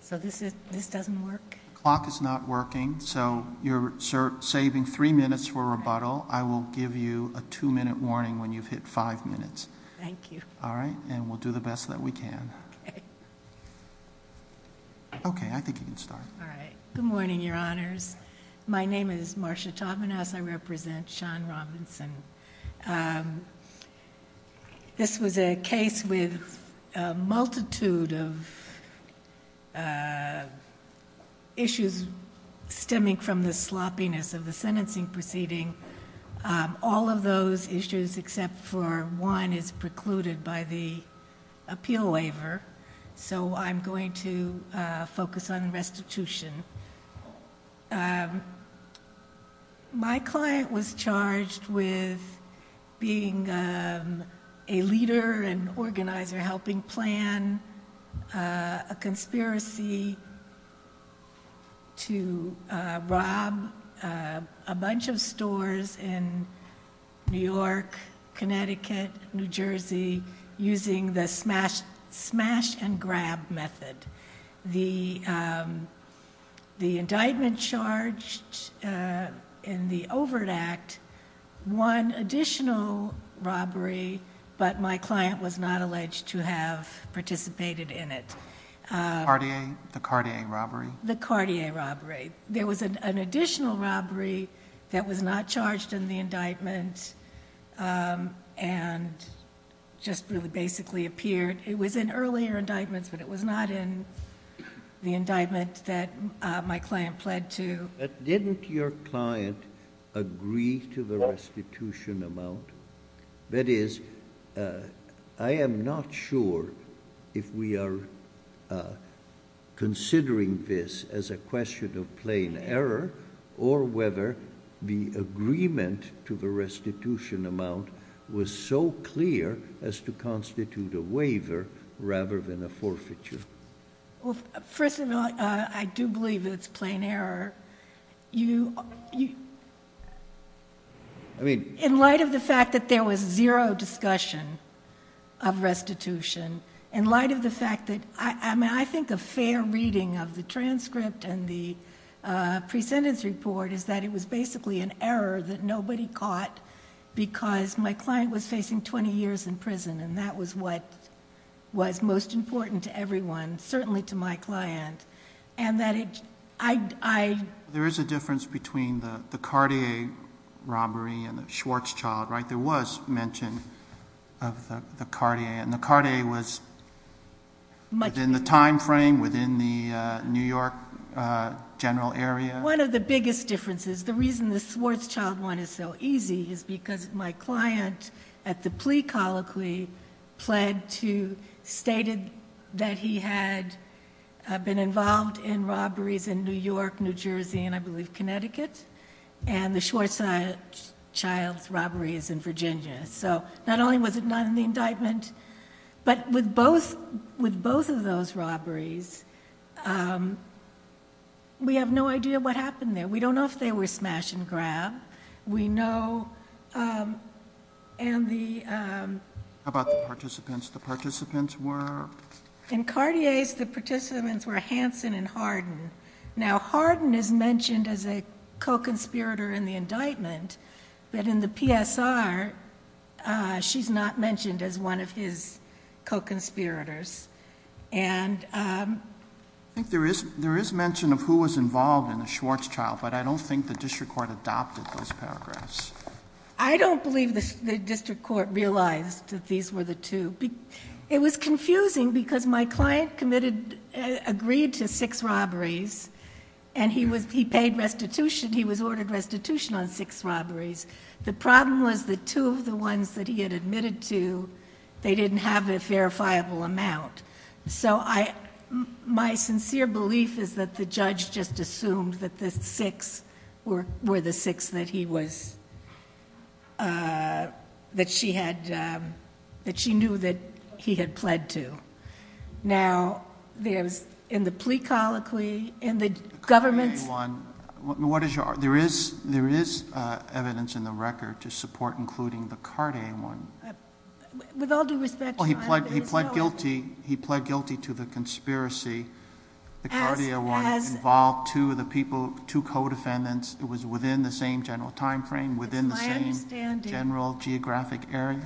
So this is this doesn't work. Clock is not working. So you're saving three minutes for rebuttal. I will give you a two minute warning when you've hit five minutes. Thank you. All right. And we'll do the best that we can. Okay. Okay. I think you can start. All right. Good morning, Your Honors. My name is Marsha Taubman as I represent Sean Robinson. Um, this was a case with a multitude of issues stemming from the sloppiness of the sentencing proceeding. All of those issues except for one is precluded by the appeal waiver. So I'm going to focus on restitution. Um, my client was charged with being a leader and organizer, helping plan a conspiracy to rob a bunch of stores in New York, Connecticut, New Jersey, using the smash smash and grab method. The, um, the indictment charged, uh, in the Overt Act, one additional robbery, but my client was not alleged to have participated in it. The Cartier robbery? The Cartier robbery. There was an additional robbery that was not charged in the indictment. Um, and just really basically appeared. It was in earlier indictments, but it was not in the indictment that my client pled to. But didn't your client agree to the restitution amount? That is, uh, I am not sure if we are, uh, considering this as a question of plain error or whether the agreement to the restitution amount was so clear as to constitute a waiver rather than a forfeiture. Well, first of all, uh, I do believe it's plain error. You, you, I mean, in light of the fact that there was zero discussion of restitution in light of the fact that I, I mean, I think a fair reading of the transcript and the, uh, presentence report is that it was basically an error that nobody caught because my client was facing 20 years in prison. And that was what was most important to everyone, certainly to my client. And that it, I, I, there is a difference between the, the Cartier robbery and the Schwarzchild, right? There was mention of the, the Cartier and the Cartier was much in the timeframe within the, uh, New York, uh, general area. One of the biggest differences, the reason the Schwarzchild one is so easy is because my client at the plea colloquy pled to, stated that he had been involved in robberies in New York, New Jersey, and I believe Connecticut, and the Schwarzchild robbery is in Virginia. So not only was it not in the indictment, but with both, with both of those robberies, um, we have no idea what happened there. We don't know if they were smash and grab. We know, um, and the, um. How about the participants? The participants were? In Cartier's, the participants were Hanson and Hardin. Now Hardin is mentioned as a co-conspirator in the indictment, but in the PSR, uh, she's not mentioned as one of his co-conspirators. And, um. I think there is, there is mention of who was involved in the Schwarzchild, but I don't think the district court adopted those paragraphs. I don't believe the district court realized that these were the two. It was confusing because my client committed, uh, agreed to six robberies and he was, he paid restitution. He was ordered restitution on six robberies. The problem was the two of the ones that he had admitted to, they didn't have a verifiable amount. So I, my sincere belief is that the judge just assumed that the six were, were the six that he was, uh, that she had, um, that she knew that he had pled to. Now there's in the plea colloquy and the government's. What is your, there is, there is, uh, evidence in the record to support including the Cartier one. With all due respect. He pled, he pled guilty. He pled guilty to the conspiracy. The Cartier one involved two of the people, two co-defendants. It was within the same general timeframe, within the same general geographic area.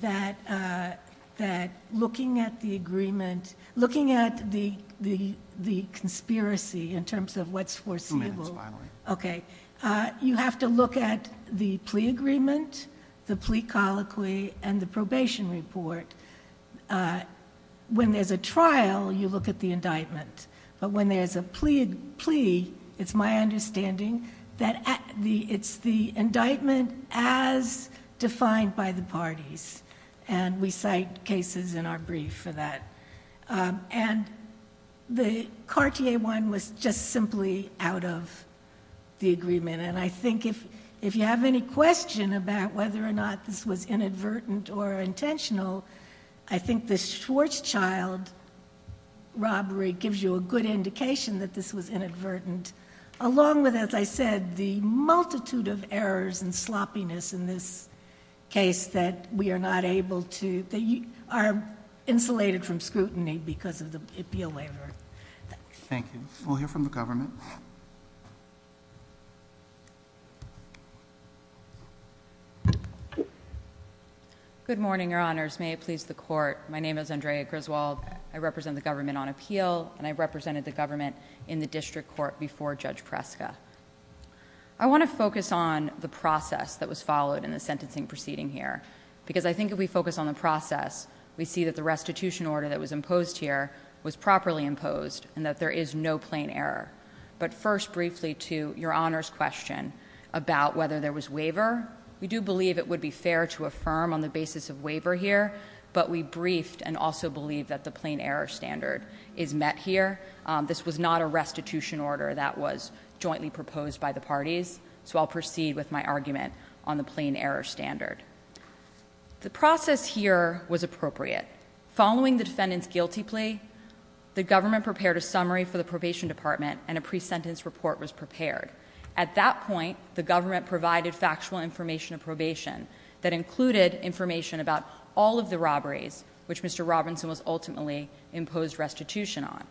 That, uh, that looking at the agreement, looking at the, the, the conspiracy in terms of what's foreseeable. Okay. Uh, you have to look at the plea agreement, the plea colloquy and the probation report. Uh, when there's a trial, you look at the indictment, but when there's a plea plea, it's my understanding that the, it's the indictment as defined by the parties and we cite cases in our brief for that. Um, and the Cartier one was just simply out of the agreement. And I think if, if you have any question about whether or not this was inadvertent or intentional, I think the Schwarzschild robbery gives you a good indication that this was inadvertent. Along with, as I said, the multitude of errors and sloppiness in this case that we are not able to, they are insulated from scrutiny because of the appeal waiver. Thank you. We'll hear from the government. Good morning, your honors. May it please the court. My name is Andrea Griswold. I represent the government on appeal and I represented the government in the district court before judge Prescott. I want to focus on the process that was followed in the sentencing proceeding here because I think if we focus on the process, we see that the restitution order that was imposed here was properly imposed and that there is no plain error. But first briefly to your honors question about whether there was waiver. We do believe it would be fair to affirm on the basis of waiver here, but we briefed and also believe that the plain error standard is met here. Um, this was not a restitution order that was jointly proposed by the parties. So I'll proceed with my argument on the plain error standard. The process here was appropriate. Following the defendant's guilty plea, the government prepared a summary for the probation department and a pre-sentence report was prepared. At that point, the government provided factual information of probation that included information about all of the robberies, which Mr. Robinson was ultimately imposed restitution on.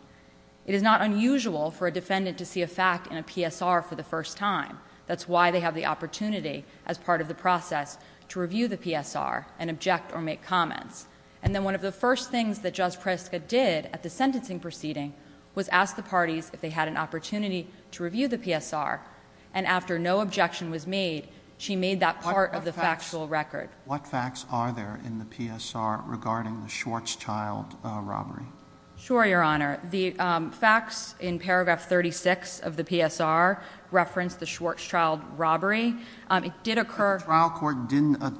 It is not unusual for a defendant to see a fact in a PSR for the first time. That's why they have the opportunity as part of the process to review the PSR and object or make comments. And then one of the first things that Judge Pritzker did at the sentencing proceeding was ask the parties if they had an opportunity to review the PSR. And after no objection was made, she made that part of the factual record. What facts are there in the PSR regarding the Schwarzchild robbery? Sure, your honor. The facts in paragraph 36 of the PSR referenced the Schwarzchild robbery. It did occur. The trial court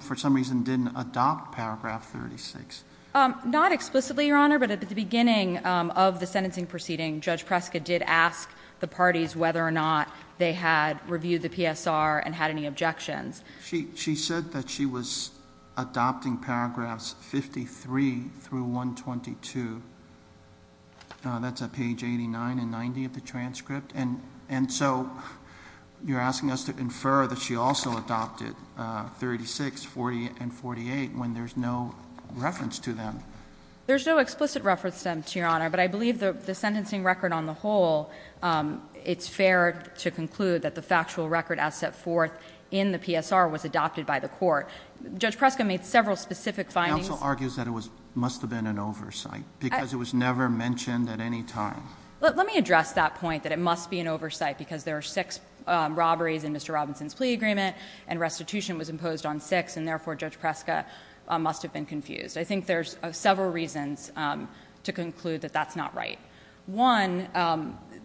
for some reason didn't adopt paragraph 36. Not explicitly, your honor, but at the beginning of the sentencing proceeding, Judge Pritzker did ask the parties whether or not they had reviewed the PSR and had any objections. She said that she was adopting paragraphs 53 through 122. That's at page 89 and 90 of the transcript. And so you're asking us to infer that she also adopted 36, 40, and 48 when there's no reference to them. There's no explicit reference to them, your honor. But I believe the sentencing record on the whole, it's fair to conclude that the factual record as set forth in the PSR was adopted by the court. Judge Pritzker made several specific findings. Counsel argues that it must have been an oversight because it was never mentioned at any time. Let me address that point that it must be an oversight because there are six robberies in Mr. Robinson's plea agreement and restitution was imposed on six and therefore Judge Pritzker must have been confused. I think there's several reasons to conclude that that's not right. One,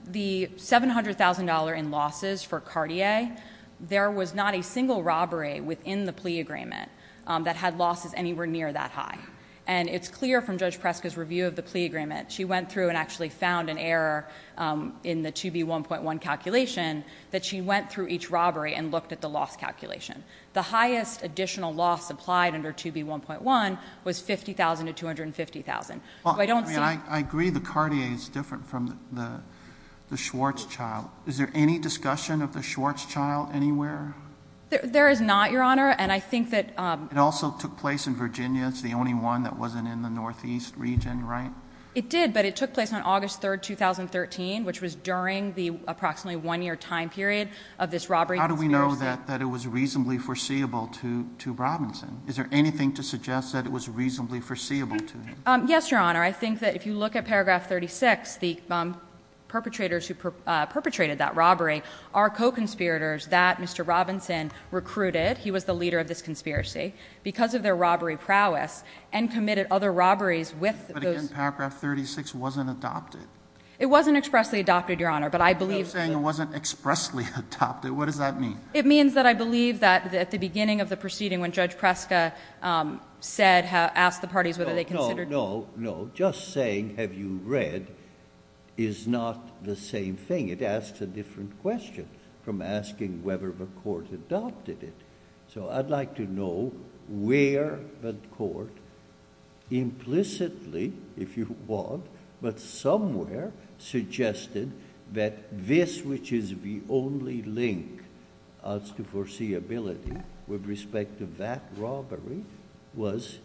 the $700,000 in losses for Cartier, there was not a single robbery within the plea agreement that had losses anywhere near that high. And it's clear from Judge Pritzker's review of the plea agreement. She went through and actually found an error in the 2B1.1 calculation that she went through each robbery and looked at the loss calculation. The highest additional loss applied under 2B1.1 was $50,000 to $250,000. I agree the Cartier is different from the Schwartzchild. Is there any discussion of the Schwartzchild anywhere? There is not, your honor, and I think that- It also took place in Virginia. It's the only one that wasn't in the northeast region, right? It did, but it took place on August 3rd, 2013, which was during the approximately one-year time period of this robbery. How do we know that it was reasonably foreseeable to Robinson? Is there anything to suggest that it was reasonably foreseeable to him? Yes, your honor. I think that if you look at paragraph 36, the perpetrators who perpetrated that robbery are co-conspirators that Mr. Robinson recruited. He was the leader of this conspiracy because of their robbery prowess and committed other robberies with those- But paragraph 36 wasn't adopted. It wasn't expressly adopted, your honor, but I believe- You're saying it wasn't expressly adopted. What does that mean? It means that I believe that at the beginning of the proceeding when Judge Preska said, asked the parties whether they considered- No, no, no. Just saying, have you read, is not the same thing. It asks a different question from asking whether the court adopted it. I'd like to know where the court implicitly, if you want, but somewhere suggested that this which is the only link as to foreseeability with respect to that robbery was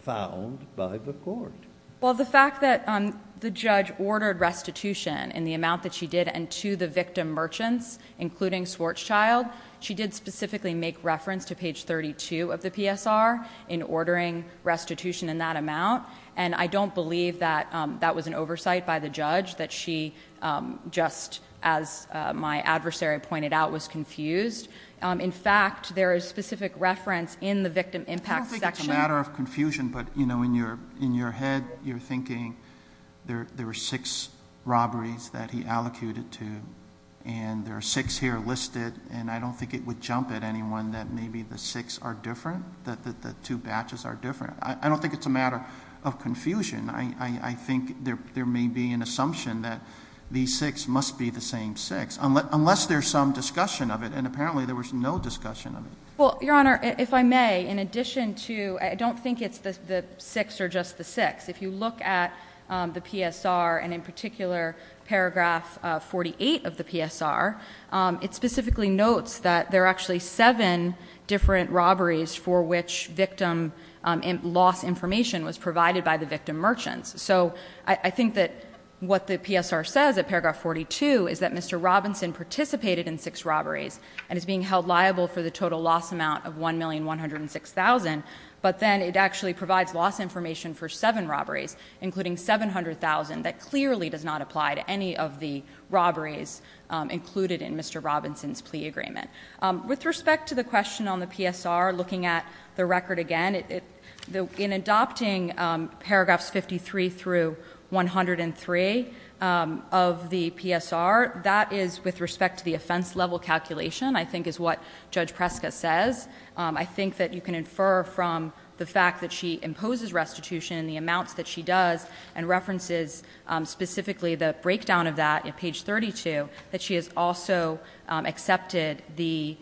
found by the court. Well, the fact that the judge ordered restitution in the amount that she did and to the victim merchants, including Schwarzchild, she did specifically make reference to page 32 of the PSR in ordering restitution in that amount. And I don't believe that that was an oversight by the judge, that she just, as my adversary pointed out, was confused. In fact, there is specific reference in the victim impact section- You said you're thinking there were six robberies that he allocated to, and there are six here listed, and I don't think it would jump at anyone that maybe the six are different, that the two batches are different. I don't think it's a matter of confusion. I think there may be an assumption that these six must be the same six, unless there's some discussion of it, and apparently there was no discussion of it. Well, Your Honor, if I may, in addition to- I don't think it's the six or just the six. If you look at the PSR, and in particular paragraph 48 of the PSR, it specifically notes that there are actually seven different robberies for which victim loss information was provided by the victim merchants. So I think that what the PSR says at paragraph 42 is that Mr. Robinson participated in six robberies and is being held liable for the total loss amount of $1,106,000. But then it actually provides loss information for seven robberies, including $700,000, that clearly does not apply to any of the robberies included in Mr. Robinson's plea agreement. With respect to the question on the PSR, looking at the record again, in adopting paragraphs 53 through 103 of the PSR, that is with respect to the offense level calculation, I think is what Judge Preska says. I think that you can infer from the fact that she imposes restitution, the amounts that she does, and references specifically the breakdown of that at page 32, that she has also accepted the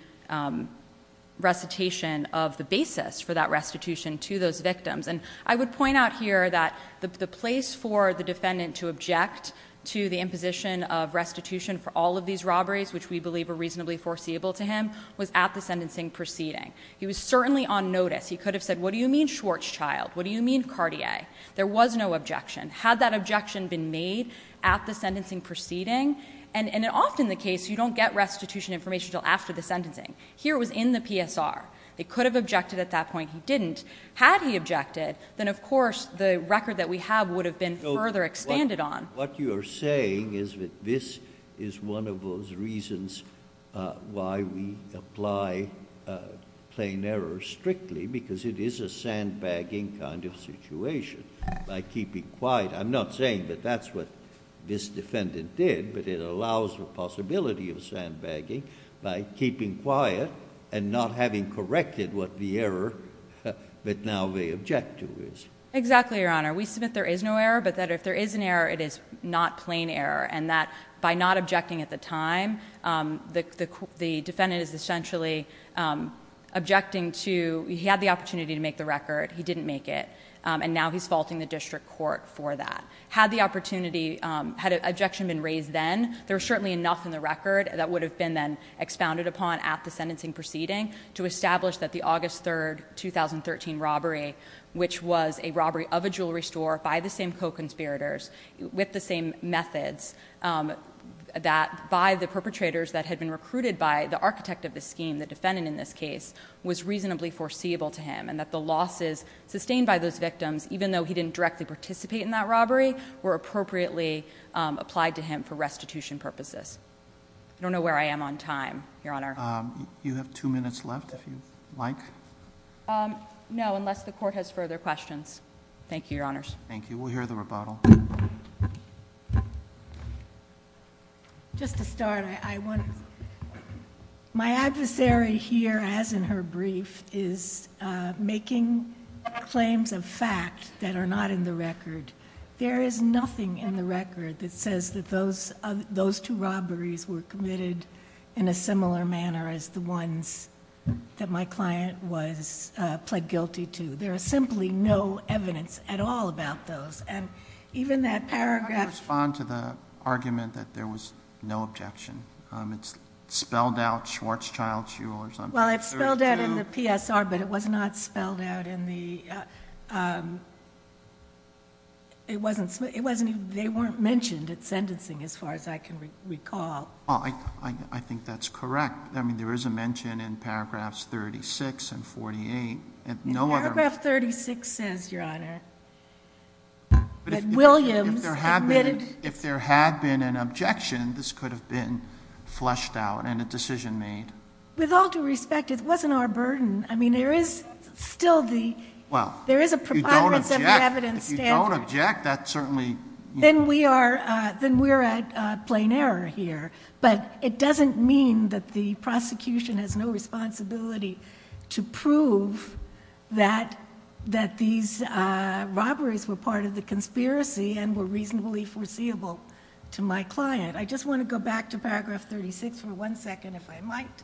recitation of the basis for that restitution to those victims. And I would point out here that the place for the defendant to object to the imposition of restitution for all of these robberies, which we believe are reasonably foreseeable to him, was at the sentencing proceeding. He was certainly on notice. He could have said, what do you mean Schwartzchild? What do you mean Cartier? There was no objection. Had that objection been made at the sentencing proceeding? And often in the case, you don't get restitution information until after the sentencing. Here it was in the PSR. They could have objected at that point. He didn't. Had he objected, then of course the record that we have would have been further expanded on. What you are saying is that this is one of those reasons why we apply plain error strictly, because it is a sandbagging kind of situation. I'm not saying that that's what this defendant did, but it allows the possibility of sandbagging by keeping quiet and not having corrected what the error that now they object to is. Exactly, Your Honor. We submit there is no error, but that if there is an error, it is not plain error. And that by not objecting at the time, the defendant is essentially objecting to he had the opportunity to make the record. He didn't make it. And now he is faulting the district court for that. Had the opportunity, had an objection been raised then, there is certainly enough in the record that would have been then expounded upon at the sentencing proceeding to establish that the August 3, 2013 robbery, which was a robbery of a jewelry store by the same co-conspirators with the same methods, that by the perpetrators that had been recruited by the architect of the scheme, the defendant in this case, was reasonably foreseeable to him. And that the losses sustained by those victims, even though he didn't directly participate in that robbery, were appropriately applied to him for restitution purposes. I don't know where I am on time, Your Honor. You have two minutes left if you'd like. No, unless the court has further questions. Thank you, Your Honors. Thank you. We'll hear the rebuttal. Just to start, my adversary here, as in her brief, is making claims of fact that are not in the record. There is nothing in the record that says that those two robberies were committed in a similar manner as the ones that my client was pled guilty to. There is simply no evidence at all about those. And even that paragraph How do you respond to the argument that there was no objection? It's spelled out, Schwarzschild, Shuler, something. Well, it's spelled out in the PSR, but it was not spelled out in the It wasn't, they weren't mentioned at sentencing, as far as I can recall. I think that's correct. I mean, there is a mention in paragraphs 36 and 48. Paragraph 36 says, Your Honor, that Williams admitted If there had been an objection, this could have been fleshed out and a decision made. With all due respect, it wasn't our burden. I mean, there is still the Well, if you don't object There is a preponderance of evidence standard. If you don't object, that certainly Then we are at plain error here. But it doesn't mean that the prosecution has no responsibility To prove that these robberies were part of the conspiracy And were reasonably foreseeable to my client. I just want to go back to paragraph 36 for one second, if I might.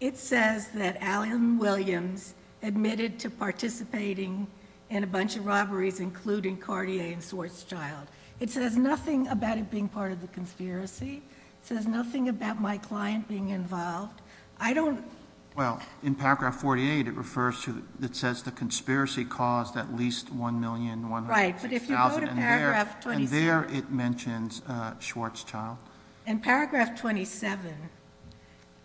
It says that Allyn Williams admitted to participating In a bunch of robberies, including Cartier and Schwarzschild. It says nothing about it being part of the conspiracy. It says nothing about my client being involved. I don't Well, in paragraph 48, it refers to It says the conspiracy caused at least 1,106,000 Right, but if you go to paragraph 27 And there it mentions Schwarzschild. In paragraph 27,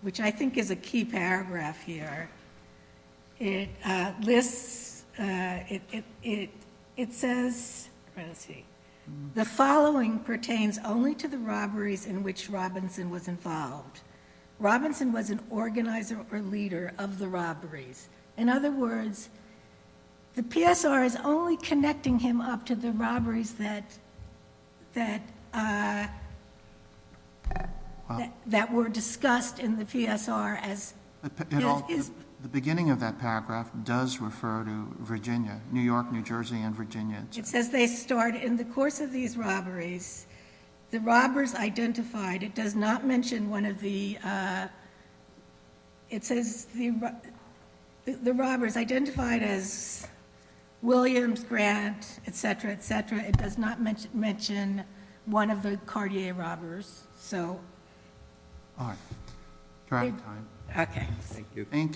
which I think is a key paragraph here It lists It says The following pertains only to the robberies in which Robinson was involved. Robinson was an organizer or leader of the robberies. In other words, the PSR is only connecting him up to the robberies That were discussed in the PSR as The beginning of that paragraph does refer to Virginia, New York, New Jersey, and Virginia. It says they start in the course of these robberies The robbers identified, it does not mention one of the It says the robbers identified as Williams, Grant, etc., etc. It does not mention one of the Cartier robbers, so All right, we're out of time. Okay. Thank you. Thank you. Thank you.